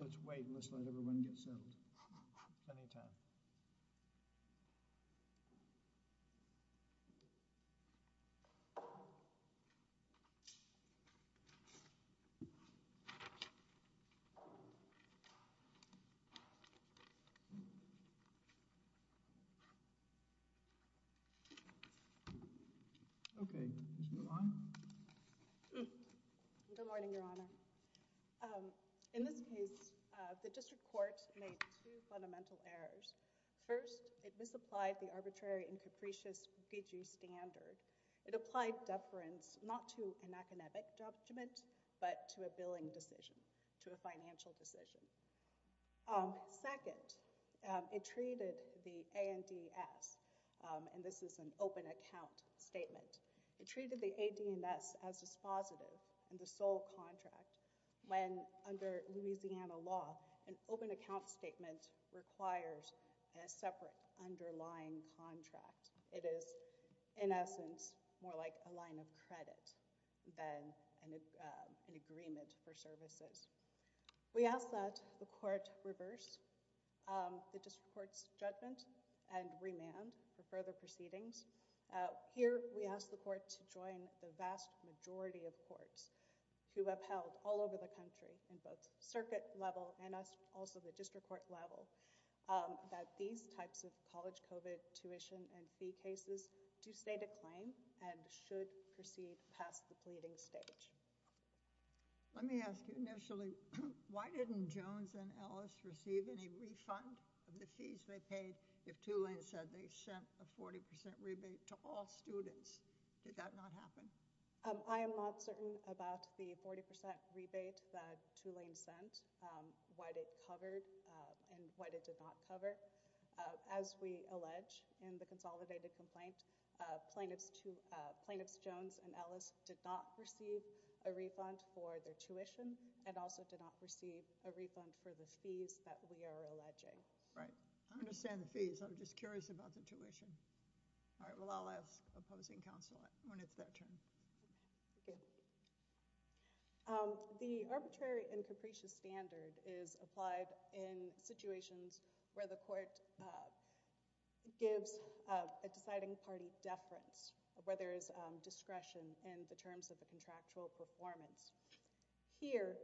let's wait just let everyone get served anytime oh okay let's move on good morning your honor um in this case the district court made two fundamental errors first it misapplied the arbitrary and capricious refugee standard it applied deference not to an academic judgment but to a billing decision to a financial decision second it treated the ands and this is an open account statement it treated the adms as dispositive and the sole contract when under louisiana law an open account statement requires a separate underlying contract it is in essence more like a line of credit than an agreement for services we ask that the court reverse the district court's judgment and remand for further proceedings here we ask the court to join the vast majority of courts who upheld all over the country in both us also the district court level that these types of college covet tuition and fee cases do state a claim and should proceed past the pleading stage let me ask you initially why didn't jones and ellis receive any refund of the fees they paid if two lanes said they sent a 40 rebate to all students did that not happen i am not certain about the 40 rebate that lane sent um what it covered and what it did not cover as we allege in the consolidated complaint uh plaintiffs to plaintiffs jones and ellis did not receive a refund for their tuition and also did not receive a refund for the fees that we are alleging right i understand the fees i'm just curious about the tuition all right well i'll ask opposing counsel when it's that turn thank you um the arbitrary and capricious standard is applied in situations where the court gives a deciding party deference where there is discretion in the terms of the contractual performance here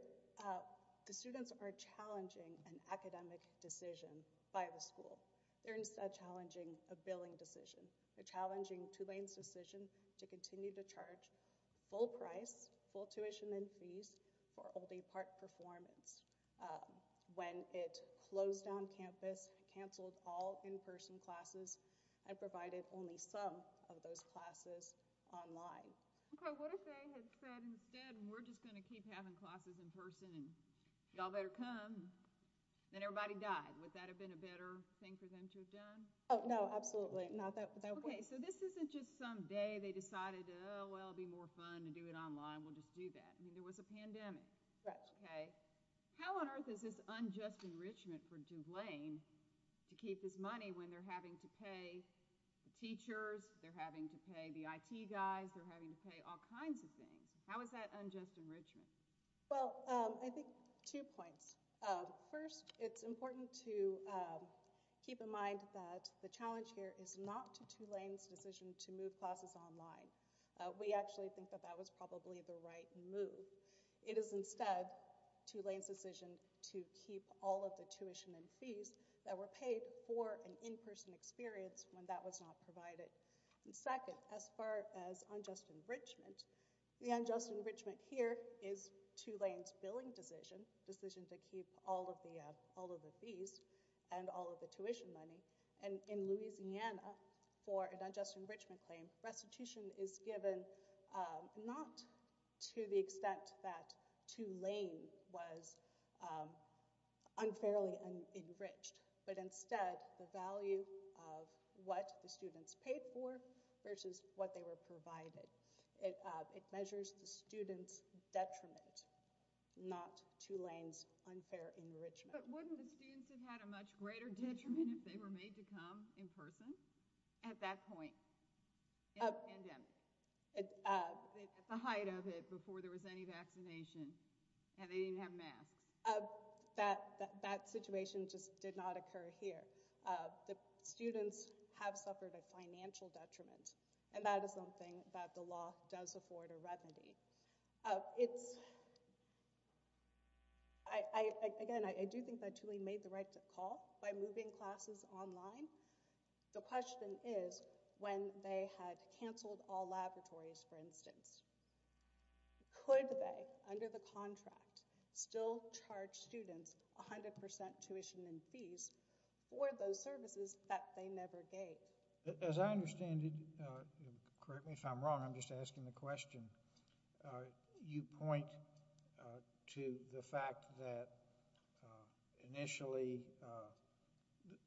the students are challenging an academic decision by the school they're instead challenging a billing decision they're challenging two lanes decision to continue to charge full price full tuition and fees for all day park performance when it closed on campus canceled all in-person classes and provided only some of those classes online okay what if they had said instead we're just going to keep having classes in person and y'all better come then everybody died would that have been a better thing for them to have done oh no absolutely not so this isn't just some day they decided oh well it'd be more fun to do it online we'll just do that there was a pandemic right okay how on earth is this unjust enrichment for june lane to keep this money when they're having to pay the teachers they're having to pay the i.t guys they're having to pay all kinds of things how is that unjust enrichment well um i think two points first it's important to keep in mind that the challenge here is not two lanes decision to move classes online we actually think that that was probably the right move it is instead two lanes decision to keep all of the tuition and fees that were paid for an in-person experience when that was not provided and second as far as unjust enrichment the unjust enrichment here is two lanes billing decision decision to keep all of the uh all of the fees and all of the tuition money and in louisiana for a digest enrichment claim restitution is given um not to the extent that two lane was um unfairly enriched but instead the value of what the students paid for versus what they were provided it uh it measures the students detriment not two lanes unfair enrichment but wouldn't the students have had a much greater detriment if they were made to come in person at that point at the height of it before there was any vaccination and they didn't have and that is something that the law does afford a remedy uh it's i i again i do think that truly made the right call by moving classes online the question is when they had canceled all laboratories for instance could they under the contract still charge students 100 tuition and fees for those services that they never gave as i understand it uh correct me if i'm wrong i'm just asking the question uh you point uh to the fact that uh initially uh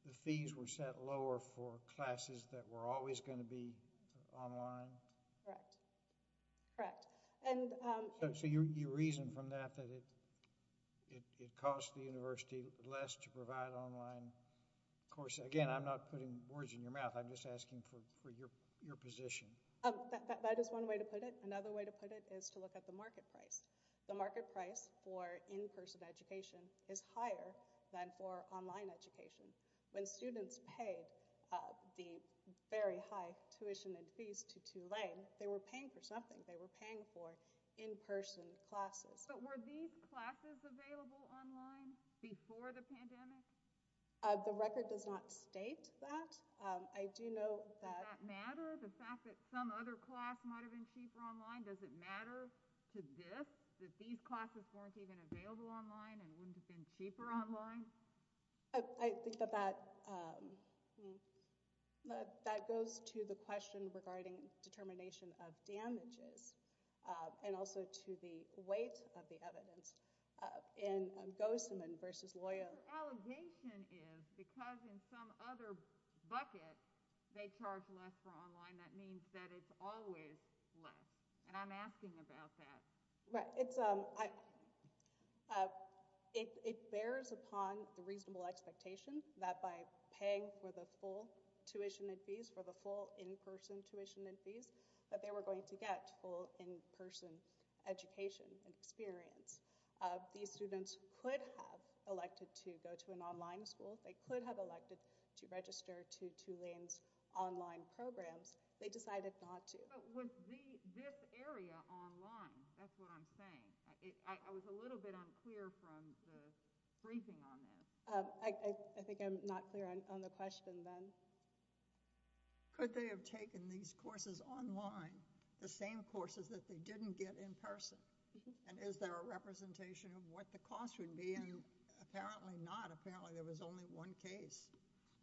the fees were set lower for classes that were always going to be online correct correct and um so you you reason from that that it it it cost the university less to provide online of course again i'm not putting words in your mouth i'm just asking for for your your position um that is one way to put it another way to put it is to look at the market price the market price for in-person education is higher than for online education when students paid uh the very high tuition and fees to two lane they were paying for something they were paying for in-person classes but were these classes available online before the pandemic uh the record does not state that um i do know that matter the fact that some other class might have been cheaper online does it matter to this that these classes weren't even available online and wouldn't have been cheaper online i think that that um but that goes to the question regarding determination of damages and also to the weight of the evidence uh in ghostman versus loyal allegation is because in some other bucket they charge less for online that means that it's always less and i'm asking about that right it's um i uh it it bears upon the reasonable expectation that by paying for the full tuition and fees for the full in-person tuition and fees that they were going to get full in-person education and experience uh these students could have elected to go to an online school they could have elected to register to two lanes online programs they decided not to but with the this area online that's what i'm saying i i was a little bit unclear from the question then could they have taken these courses online the same courses that they didn't get in person and is there a representation of what the cost would be and you apparently not apparently there was only one case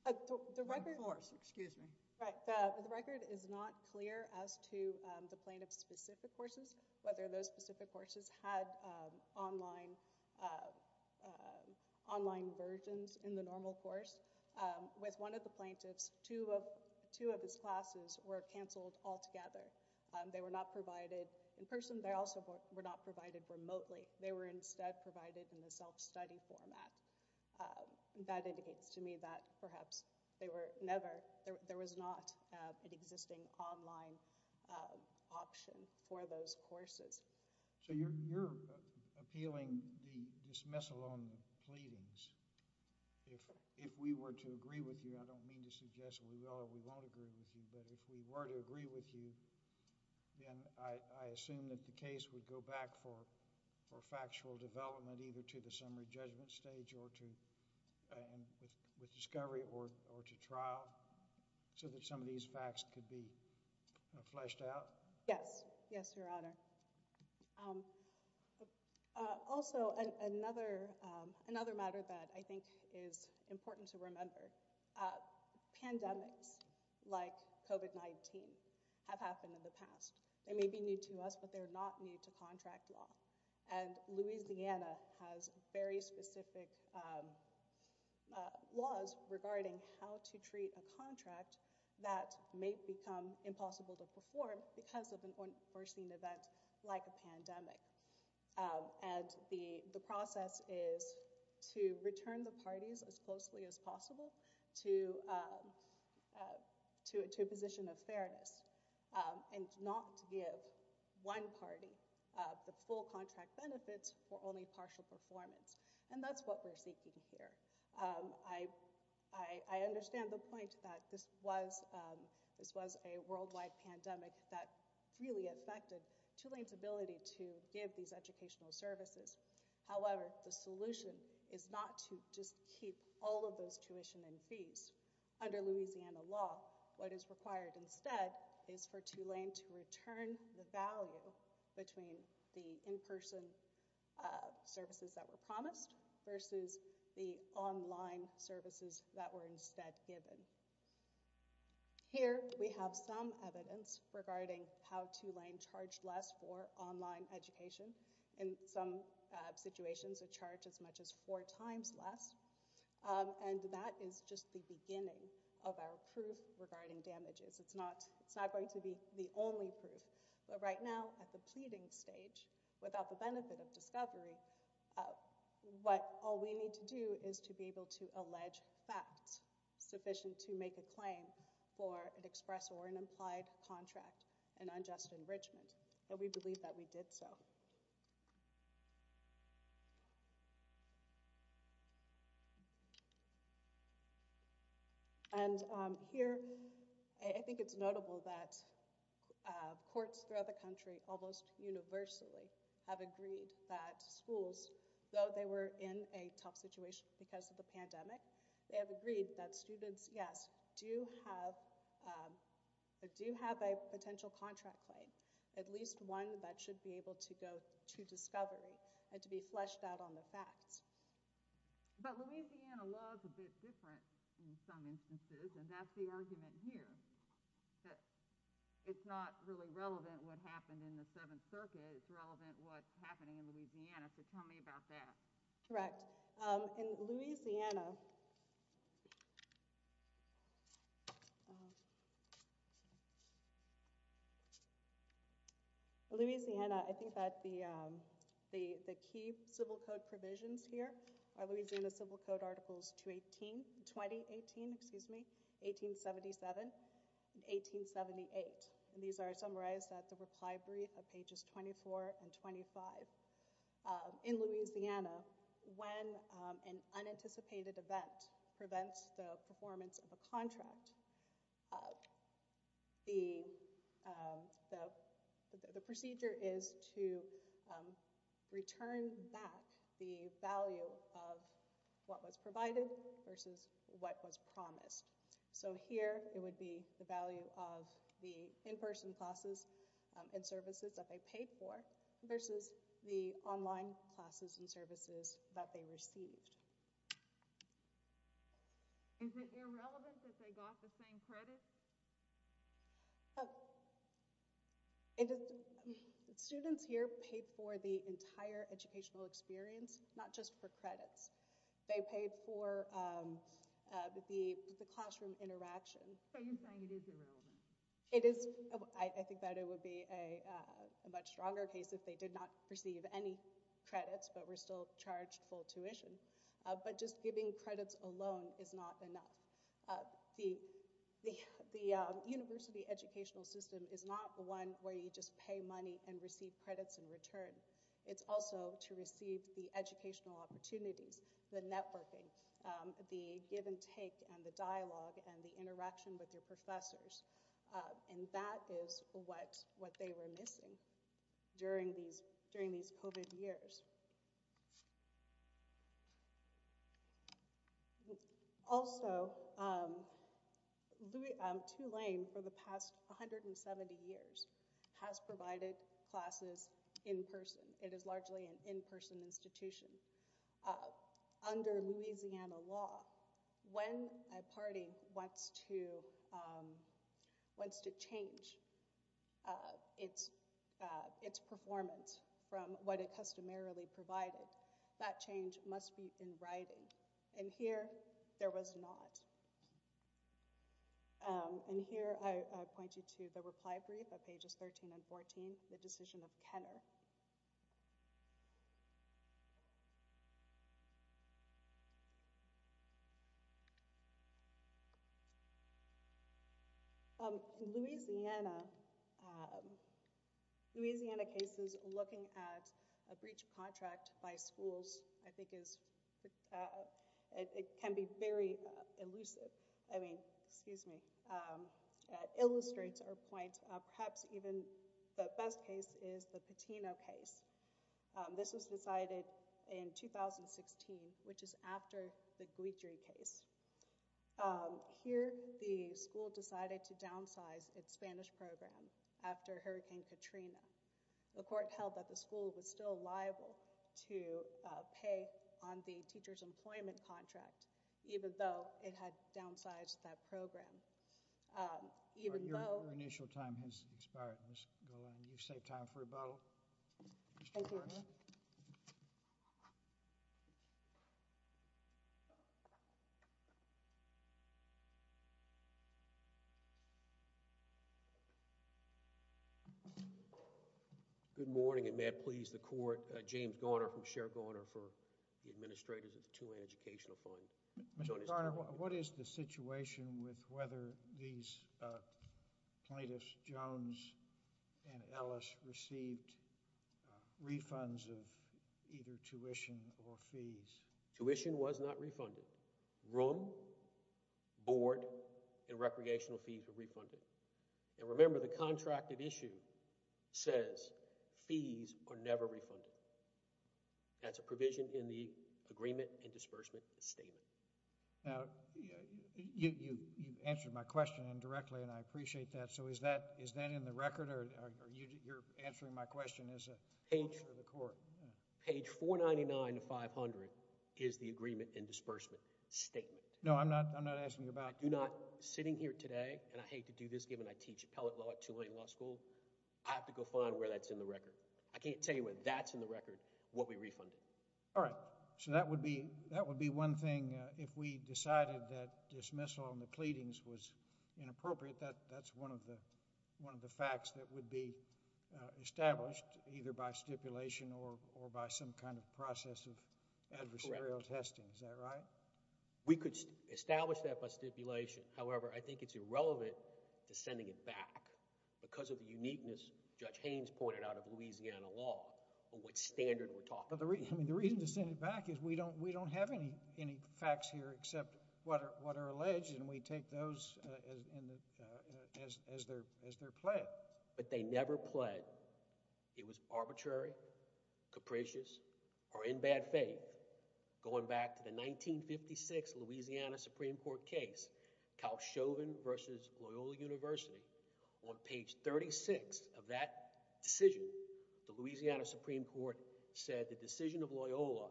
the record excuse me right the record is not clear as to the plaintiff's specific courses whether those specific courses had um online uh uh online versions in the normal course um with one of the plaintiffs two of two of his classes were canceled altogether um they were not provided in person they also were not provided remotely they were instead provided in the self-study format that indicates to me that perhaps they were never there was not an existing online uh option for those courses so you're you're appealing the dismissal on the pleadings if if we were to agree with you i don't mean to suggest we are we won't agree with you but if we were to agree with you then i i assume that the case would go back for for factual development either to the summary judgment stage or to and with discovery or or to trial so that some of these facts could be fleshed out yes yes your honor um also another um another matter that i think is important to remember uh pandemics like covet 19 have happened in the past they may be new to us but they're not new to contract law and louisiana has very specific um uh laws regarding how to treat a contract that may become impossible to perform because of an unforeseen event like a pandemic and the the process is to return the parties as closely as possible to um uh to a position of fairness um and not give one party uh the full contract benefits for only partial performance and that's what we're seeking here um i i understand the point that this was um this was a worldwide pandemic that really affected two lanes ability to give these educational services however the solution is not to just keep all of those tuition and fees under louisiana law what is required instead is for in-person uh services that were promised versus the online services that were instead given here we have some evidence regarding how to lane charged less for online education in some situations of charge as much as four times less and that is just the beginning of our proof regarding damages it's not it's not going to be the only proof but right now at the pleading stage without the benefit of discovery what all we need to do is to be able to allege facts sufficient to make a claim for an express or an implied contract and unjust enrichment that we believe that we did so um and um here i think it's notable that uh courts throughout the country almost universally have agreed that schools though they were in a tough situation because of the pandemic they have agreed that students yes do have um but do have a potential contract claim at least one that should be able to go to discovery and to be fleshed out on the facts but louisiana law is a bit different in some instances and that's the argument here that it's not really relevant what happened in the seventh circuit it's relevant what's louisiana i think that the um the the key civil code provisions here are louisiana civil code articles 218 20 18 excuse me 1877 1878 and these are summarized at the reply brief of pages 24 and 25 in louisiana when an unanticipated event prevents the performance of a contract uh the um the the procedure is to um return back the value of what was provided versus what was promised so here it would be the value of the in-person classes and services that they paid for versus the online classes and services that they received is it irrelevant that they got the same credit it is students here paid for the entire educational experience not just for credits they paid for um the the classroom interaction so you're saying it is irrelevant it is i think that it would be a uh a much stronger case if they did not receive any credits but were still charged full tuition but just giving credits alone is not enough the the university educational system is not the one where you just pay money and receive credits in return it's also to receive the educational opportunities the networking the give and take and the dialogue and the interaction with your professors and that is what what they were missing during these during these coveted years also um two lane for the past 170 years has provided classes in person it is largely an in-person institution uh under louisiana law when a party wants to um wants to change uh it's uh its performance from what it customarily provided that change must be in writing and here there was not and here i point you to the reply brief of pages 13 and 14 the decision of kenner um louisiana louisiana cases looking at a breach contract by schools i think is it can be very elusive i mean excuse me illustrates our point perhaps even the best case is the patino case this was decided in 2016 which is after the glitchery case here the school decided to downsize its spanish program after hurricane katrina the court held that the school was still liable to pay on the teacher's employment contract even though it had downsized that program um even though your initial time has expired let's go on you save time for a bottle thank you good morning and may it please the court uh james garner from share garner for the administrators of the two-way educational fund what is the situation with whether these plaintiffs jones and ellis received refunds of either tuition or fees tuition was not refunded room board and recreational fees were refunded and remember the contract issue says fees are never refunded that's a provision in the agreement and disbursement statement now you you you've answered my question indirectly and i appreciate that so is that is that in the record or are you you're answering my question as a page for the court page 499 to 500 is the agreement and disbursement statement no i'm not i'm not asking about i do not sitting here today and i hate to do this given i teach appellate law at tulane law school i have to go find where that's in the record i can't tell you what that's what we refunded all right so that would be that would be one thing if we decided that dismissal on the pleadings was inappropriate that that's one of the one of the facts that would be established either by stipulation or or by some kind of process of adversarial testing is that right we could establish that by stipulation however i think it's irrelevant to sending it back because of the uniqueness judge haynes pointed out of louisiana law on what standard we're talking about the reason i mean the reason to send it back is we don't we don't have any any facts here except what are what are alleged and we take those uh and uh as as their as their play but they never pled it was arbitrary capricious or in bad faith going back to the 1956 louisiana supreme court case cal chauvin versus loyola university on page 36 of that decision the louisiana supreme court said the decision of loyola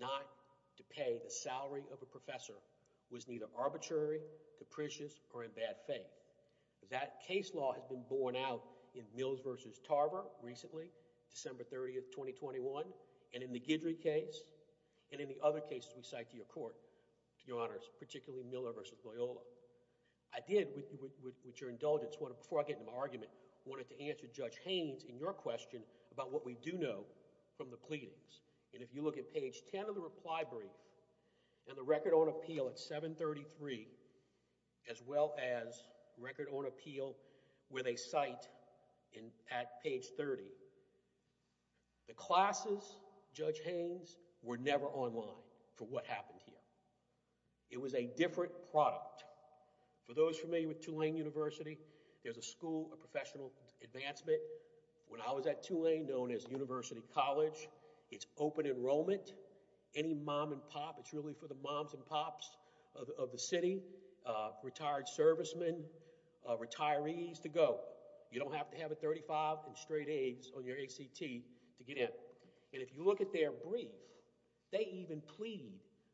not to pay the salary of a professor was neither arbitrary capricious or in bad faith that case law has been borne out in mills versus tarver recently december 30th 2021 and in the gidrey case and in the other cases we cite to court to your honors particularly miller versus loyola i did with your indulgence one before i get into my argument i wanted to answer judge haynes in your question about what we do know from the pleadings and if you look at page 10 of the reply brief and the record on appeal at 7 33 as well as record on appeal where they cite in at page 30 the classes judge haynes were never online for what happened here it was a different product for those familiar with tulane university there's a school of professional advancement when i was at tulane known as university college it's open enrollment any mom and pop it's really for the moms and pops of the city uh retired servicemen uh retirees to go you don't have to have a 35 and straight on your act to get in and if you look at their brief they even plead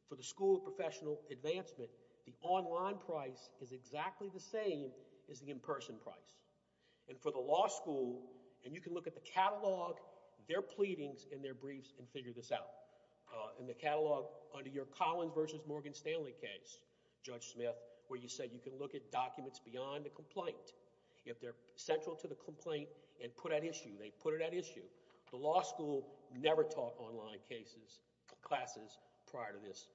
for the school of professional advancement the online price is exactly the same as the in-person price and for the law school and you can look at the catalog their pleadings in their briefs and figure this out uh in the catalog under your collins versus morgan stanley case judge smith where you said you can look at put it at issue the law school never taught online cases classes prior to this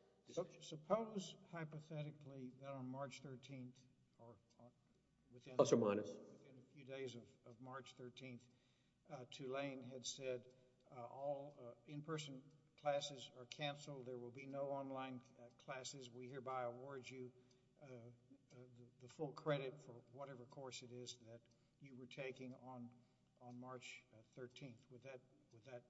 suppose hypothetically that on march 13th or within a few days of march 13th uh tulane had said all in-person classes are canceled there will be no online classes we hereby award you uh the full credit for whatever course it is that you were taking on on march 13th would that would that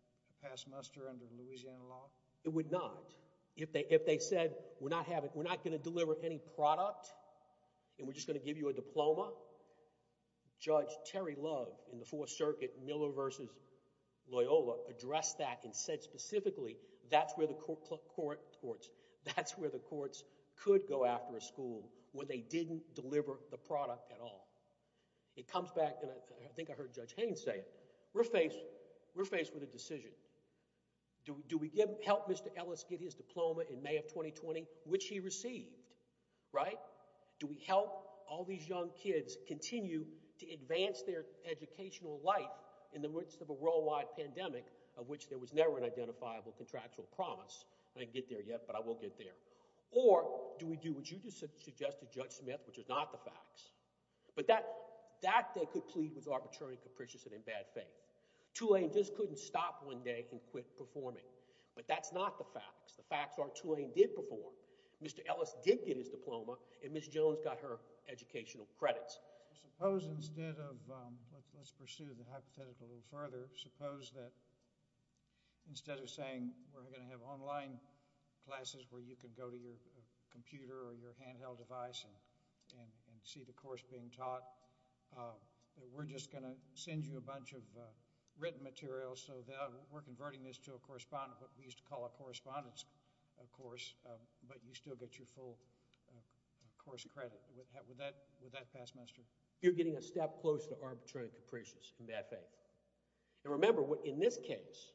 pass muster under the louisiana law it would not if they if they said we're not having we're not going to deliver any product and we're just going to give you a diploma judge terry love in the fourth circuit miller versus loyola addressed that and said specifically that's the court court courts that's where the courts could go after a school when they didn't deliver the product at all it comes back and i think i heard judge haynes say it we're faced we're faced with a decision do we give help mr ellis get his diploma in may of 2020 which he received right do we help all these young kids continue to advance their educational life in the midst of a worldwide pandemic of which there was never an identifiable contractual promise i didn't get there yet but i will get there or do we do what you just suggested judge smith which is not the facts but that that they could plead was arbitrary and capricious and in bad faith tulane just couldn't stop one day and quit performing but that's not the facts the facts are tulane did perform mr ellis did get his diploma and miss jones got her educational credits i suppose instead of um let's pursue the hypothetical a little further suppose that instead of saying we're going to have online classes where you can go to your computer or your handheld device and and and see the course being taught uh we're just going to send you a bunch of uh written materials so that we're converting this to a correspondent what we used to call a correspondence of course but you still get your full course credit with that with that past semester you're getting a step close to arbitrary and capricious in bad faith and remember what in this case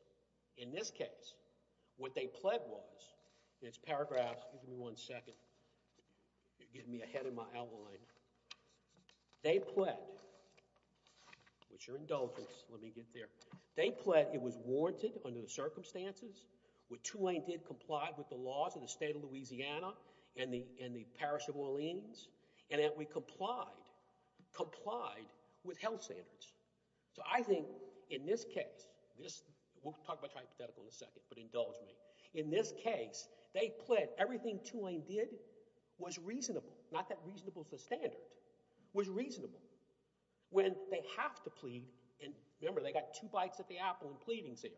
in this case what they pled was in its paragraphs give me one second you're getting me ahead of my outline they pled with your indulgence let me get there they pled it was warranted under the circumstances which i did comply with the laws of the state of louisiana and the in the parish of orleans and that we complied complied with health standards so i think in this case this we'll talk about hypothetical in a second but indulge me in this case they pled everything tulane did was reasonable not that reasonable as a standard was reasonable when they have to plead and remember they got two bites at the apple and pleadings there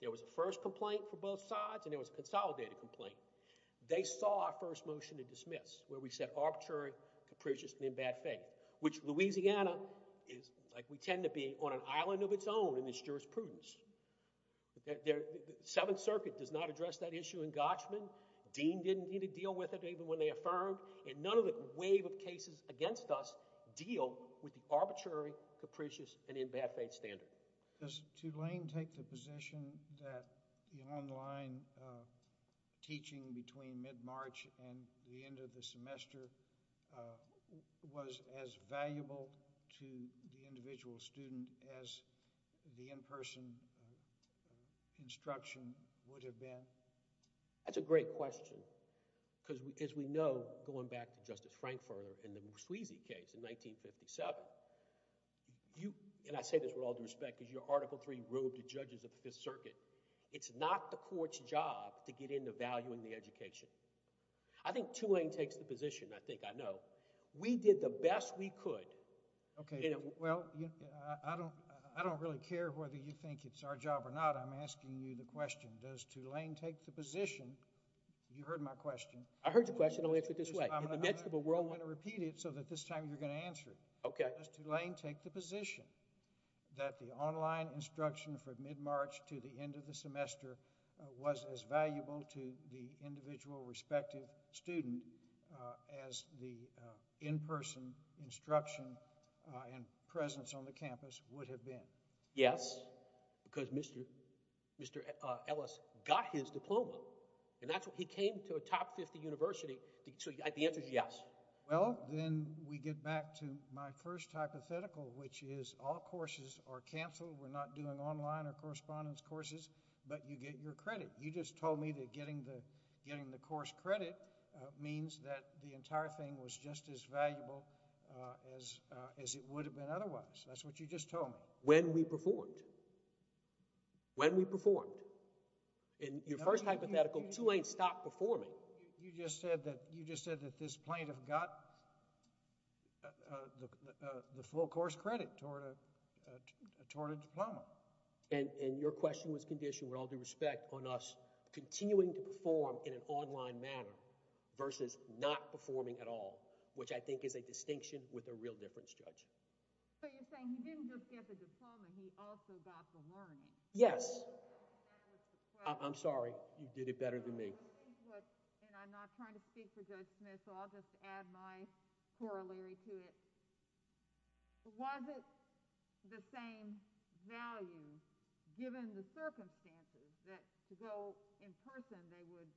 there was a first complaint for both sides and there was a consolidated complaint they saw our first motion to dismiss where we said arbitrary capricious and in bad faith which louisiana is like we tend to be on an island of its own in this jurisprudence the seventh circuit does not address that issue in gotchman dean didn't need to deal with it even when they affirmed and none of the wave of cases against us deal with the arbitrary capricious and in bad faith standard does tulane take the position that the online teaching between mid-march and the end of the semester was as valuable to the individual student as the in-person instruction would have been that's a great question because as we know going back to justice frankfurter in the moussouisi case in 1957 you and i say this with all due respect because your article 3 ruled the judges of the fifth circuit it's not the court's job to get into valuing the education i think tulane takes the position i think i know we did the best we could okay well i don't i don't really care whether you think it's our job or not i'm asking you the question does tulane take the position you heard my question i heard your question i'll answer it this way in the next of a world i'm going to repeat it so that this time you're going to answer it okay does tulane take the position that the online instruction from mid-march to the end of the semester was as valuable to the individual respective student as the in-person instruction and presence on the campus would have been yes because mr mr ellis got his diploma and that's what he came to a top 50 university so the answer is yes well then we get back to my first hypothetical which is all courses are canceled we're not doing online or correspondence courses but you get your credit you just told me that getting the getting the course credit means that the entire thing was just as valuable as as it would have been otherwise that's what you just told me when we performed when we performed in your first hypothetical tulane stopped performing you just said that you just said that this plaintiff got uh the uh the full course credit toward a toward a diploma and and your question was conditioned with all due respect on us continuing to perform in an online manner versus not performing at all which i think is a distinction with a real difference judge so you're saying he didn't just get the diploma he also got the learning yes i'm sorry you did it better than me and i'm not trying to speak for judge smith so i'll just add my corollary to it was it the same value given the circumstances that to go in person they would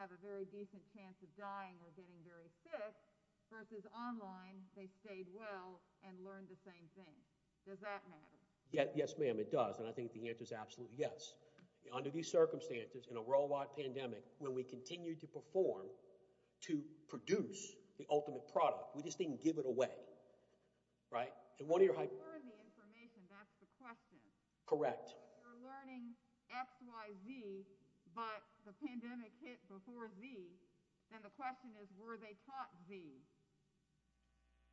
have a very decent chance of dying or getting very sick versus online they stayed well and learned the same thing does that matter yes yes ma'am it does and i think the answer is absolutely yes under these circumstances in a worldwide pandemic when we continue to perform to produce the ultimate product we just didn't give it away right and one of your the information that's the question correct you're learning xyz but the pandemic hit before z then the question is were they taught z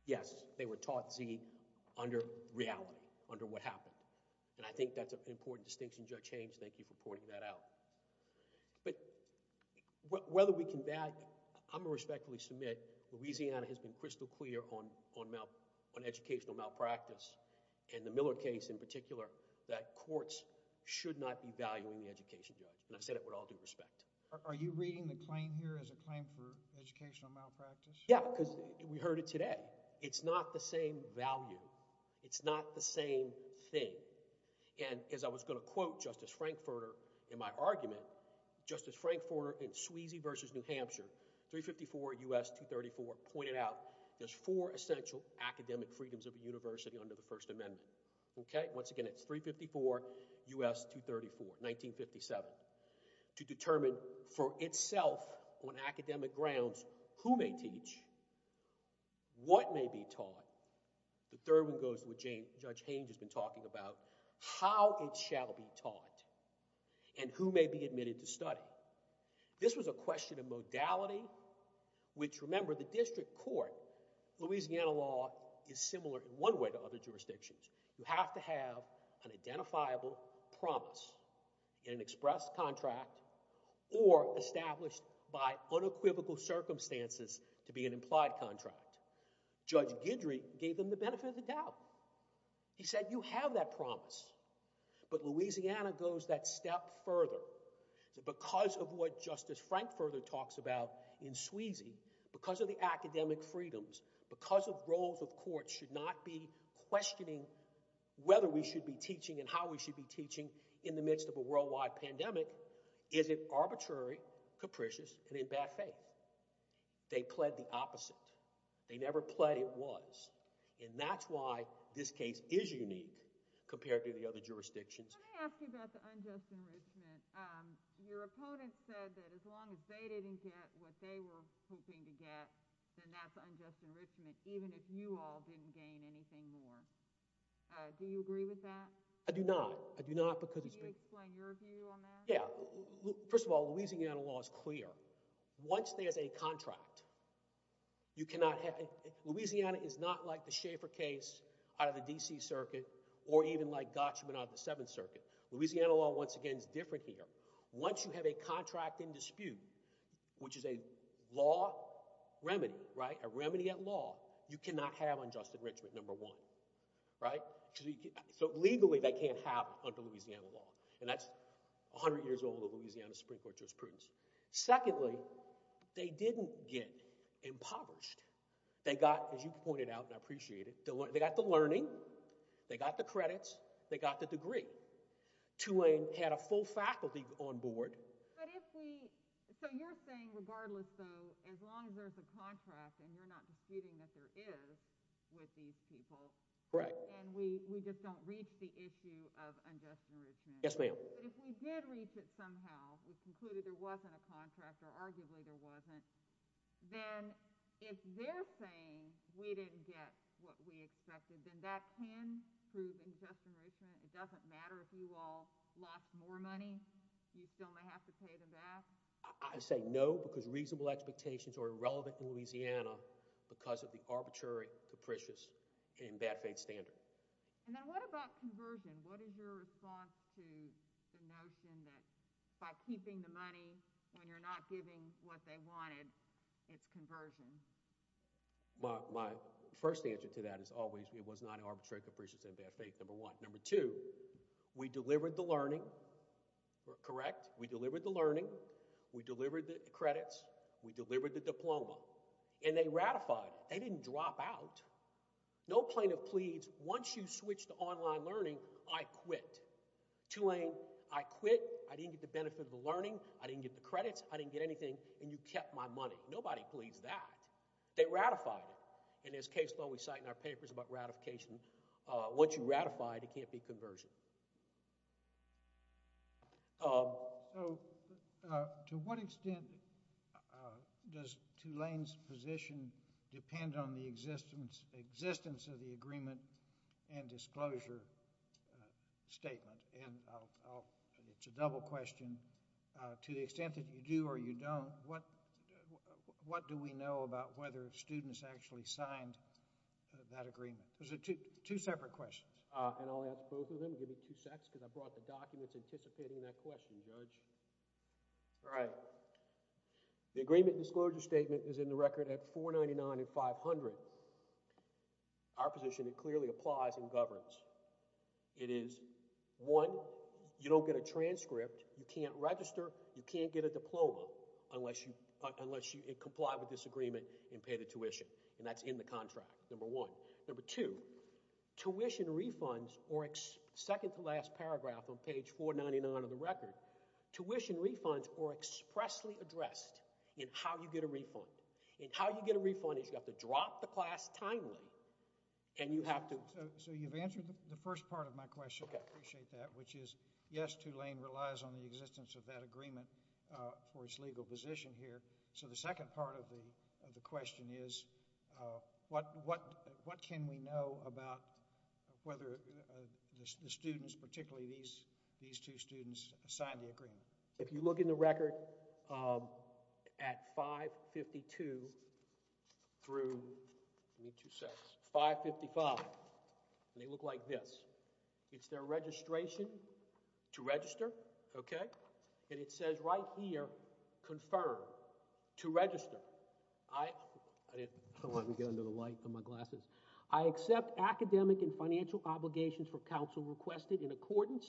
yes they were taught z under reality under what happened and i think that's an important distinction judge hames thank you for pointing that out but whether we can that i'm gonna respectfully submit louisiana has been crystal clear on on on educational malpractice and the millard case in particular that courts should not be valuing the education judge and i said it with all due respect are you reading the claim here as a claim for educational malpractice yeah because we heard it today it's not the same value it's not the same thing and as i was going to quote justice frankfurter in my argument justice frankfurter in sweezy versus new hampshire 354 us 234 pointed out there's four essential academic freedoms of a university under the first amendment okay once again it's 354 us 234 1957 to determine for itself on academic grounds who may teach what may be taught the third one goes with j judge haines has been talking about how it shall be taught and who may be admitted to study this was a question of modality which remember the district court louisiana law is similar in one way to other jurisdictions you have to have an identifiable promise in an express contract or established by unequivocal circumstances to be an implied contract judge guidry gave them the benefit of he said you have that promise but louisiana goes that step further because of what justice frankfurter talks about in sweezy because of the academic freedoms because of roles of courts should not be questioning whether we should be teaching and how we should be teaching in the midst of a worldwide pandemic is it arbitrary capricious and in bad faith they pled the opposite they never pled it was and that's why this case is unique compared to the other jurisdictions let me ask you about the unjust enrichment um your opponent said that as long as they didn't get what they were hoping to get then that's unjust enrichment even if you all didn't gain anything more uh do you agree with that i do not i do not because you explain your view on that yeah first of all louisiana law is clear once there's a contract you cannot have louisiana is not like the schaefer case out of the dc circuit or even like gotchman out of the seventh circuit louisiana law once again is different here once you have a contract in dispute which is a law remedy right a remedy at law you cannot have unjust enrichment number one right so legally they can't have under louisiana law and that's 100 years old of louisiana supreme court jurisprudence secondly they didn't get impoverished they got as you pointed out and i appreciate it they got the learning they got the credits they got the degree to lane had a full faculty on board but if we so you're saying regardless though as long as there's a contract and you're not disputing that issue of unjust enrichment yes ma'am but if we did reach it somehow we concluded there wasn't a contract or arguably there wasn't then if they're saying we didn't get what we expected then that can prove injustice enrichment it doesn't matter if you all lost more money you still may have to pay them back i say no because reasonable expectations are irrelevant in louisiana because of the arbitrary capricious and bad faith standard and then what about conversion what is your response to the notion that by keeping the money when you're not giving what they wanted it's conversion well my first answer to that is always it was not arbitrary capricious and bad faith number one number two we delivered the learning correct we delivered the learning we delivered the credits we delivered the diploma and they ratified they didn't drop out no plaintiff pleads once you switch to online learning i quit to lane i quit i didn't get the benefit of the learning i didn't get the credits i didn't get anything and you kept my money nobody pleads that they ratified it and as case law we cite in our papers about ratification uh once you ratify it it can't be conversion um so uh to what extent does two lanes position depend on the existence existence of the agreement and disclosure statement and i'll it's a double question uh to the extent that you do or you don't what what do we know about whether students actually signed that agreement there's a two separate questions uh and i'll ask both of them give me two secs because i brought the documents anticipating that question judge all right the agreement disclosure statement is in the record at 499 and 500 our position it clearly applies in governance it is one you don't get a transcript you can't register you can't get a diploma unless you unless you comply with this agreement and pay the tuition and that's in the contract number one number two tuition refunds or second to last paragraph on page 499 of the record tuition refunds are expressly addressed in how you get a refund and how you get a refund is you have to drop the class timely and you have to so you've answered the first part of my question i appreciate that which is yes two lane relies on the existence of that agreement uh for its position here so the second part of the of the question is uh what what what can we know about whether the students particularly these these two students signed the agreement if you look in the record um at 552 through the two sets 555 and they look like this it's their registration to register okay and it says right here confirm to register i i didn't i don't want to get under the light for my glasses i accept academic and financial obligations for council requested in accordance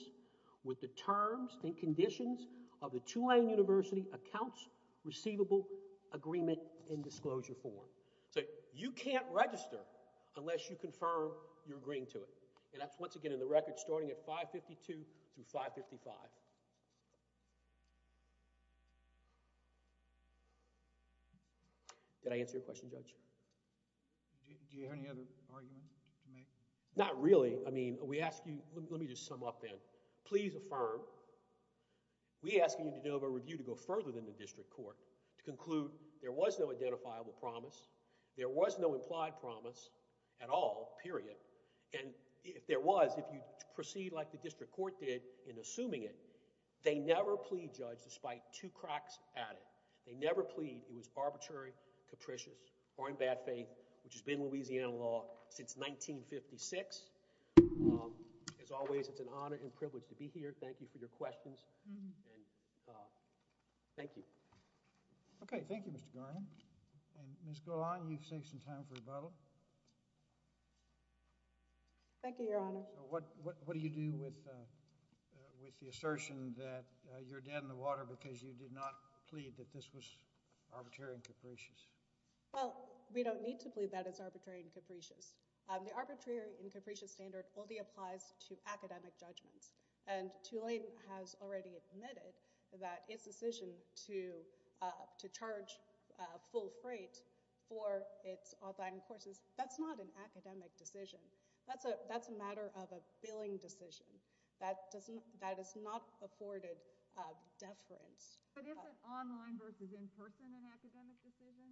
with the terms and conditions of the Tulane university accounts receivable agreement in disclosure form so you can't register unless you confirm you're agreeing to it and that's once again in the record starting at 552 through 555 did i answer your question judge do you have any other argument to make not really i mean we ask you let me just sum up then please affirm we asking you to do a review to go further than the district court to conclude there was no proceed like the district court did in assuming it they never plead judge despite two cracks at it they never plead it was arbitrary capricious or in bad faith which has been Louisiana law since 1956 um as always it's an honor and privilege to be here thank you for your questions and uh thank you okay thank you Mr. Garland and Ms. Golan you've saved some time for rebuttal um thank you your honor what what do you do with uh with the assertion that you're dead in the water because you did not plead that this was arbitrary and capricious well we don't need to believe that it's arbitrary and capricious the arbitrary and capricious standard only applies to academic judgments and Tulane has already admitted that its decision to uh to charge uh full freight for its online courses that's not an academic decision that's a that's a matter of a billing decision that doesn't that is not afforded uh deference online versus in person an academic decision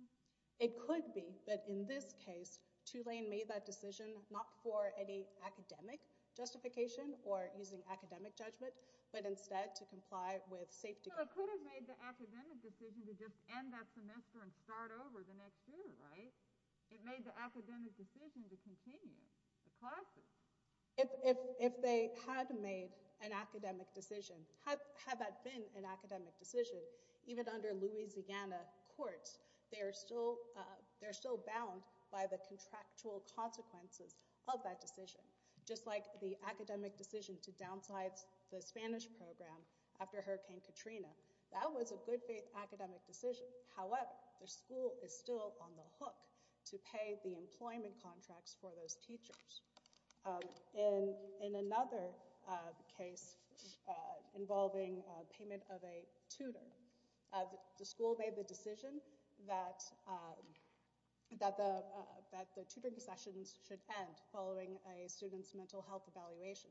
it could be but in this case Tulane made that decision not for any academic justification or using academic judgment but instead to comply with safety so it could have made the academic decision to just end that semester and start over the next year right it made the academic decision to continue the classroom if if if they had made an academic decision had that been an academic decision even under Louisiana courts they are still uh they're still bound by the contractual consequences of that decision just like the academic decision to downsize the Spanish program after Hurricane Katrina that was a good academic decision however the school is still on the hook to pay the employment contracts for those teachers um in in another uh case uh involving uh payment of a tutor uh the school made the decision that um that the uh that the tutoring sessions should end following a student's mental health evaluation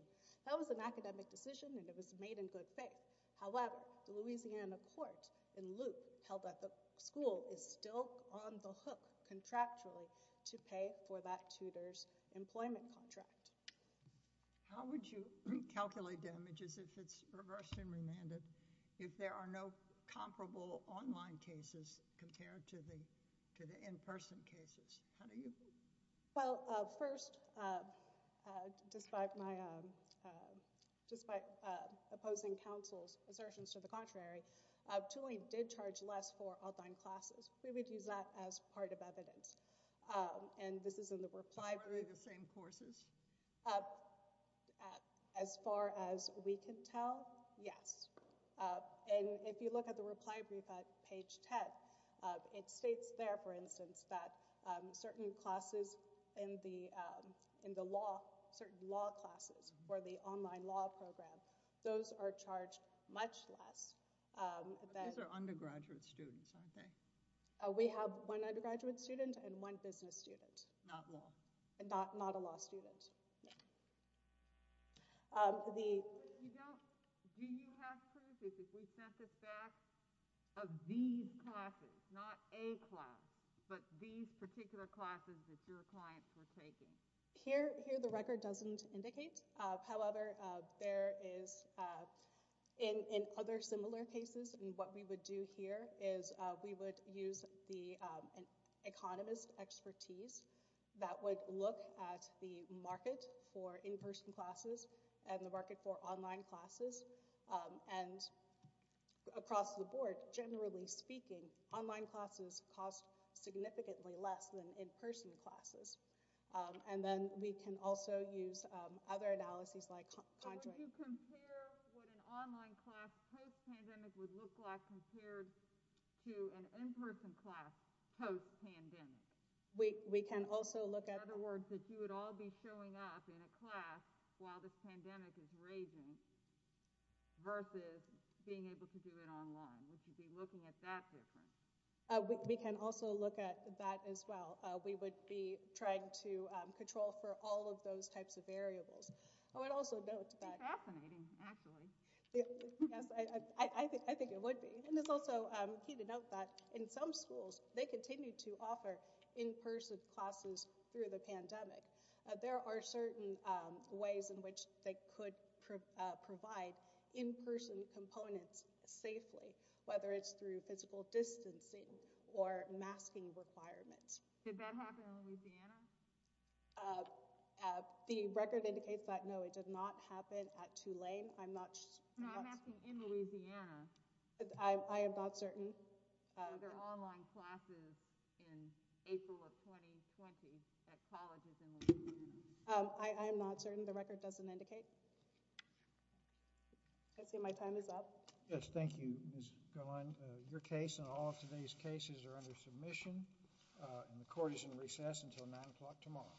that was an academic decision and it was made in good faith however the Louisiana court in loop held that the school is still on the hook contractually to pay for that tutor's employment contract how would you calculate damages if it's reversed and remanded if there are no comparable online cases compared to the to the in-person cases how do you well uh first uh uh despite my um uh despite uh opposing counsel's assertions to the contrary uh tooling did charge less for online classes we would use that as part of evidence and this is in the reply to the same courses uh as far as we can tell yes uh and if you look at page 10 it states there for instance that um certain classes in the um in the law certain law classes for the online law program those are charged much less um these are undergraduate students aren't they we have one undergraduate student and one business student not law not not a law student um the you don't do you have proof if we sent it back of these classes not a class but these particular classes that your clients were taking here here the record doesn't indicate uh however uh there is uh in in other similar cases and what we would do here is uh we would use the economist expertise that would look at the market for in-person classes and the market for online classes um and across the board generally speaking online classes cost significantly less than in-person classes um and then we can also use um other analyses like time to compare what in-person class post pandemic we we can also look at other words that you would all be showing up in a class while this pandemic is raging versus being able to do it online we should be looking at that difference uh we can also look at that as well uh we would be trying to um control for all of those types of variables i would also note that fascinating actually yes i i i think i think it would be and it's also key to note that in some schools they continue to offer in-person classes through the pandemic there are certain ways in which they could provide in-person components safely whether it's through physical distancing or masking requirements did that happen in louisiana the record indicates that no it did not happen at two lane i'm not in louisiana i i am not certain other online classes in april of 2020 at colleges um i i am not certain the record doesn't indicate i see my time is up yes thank you miss caroline your case and all of today's cases are under submission uh and the court is in recess until nine o'clock tomorrow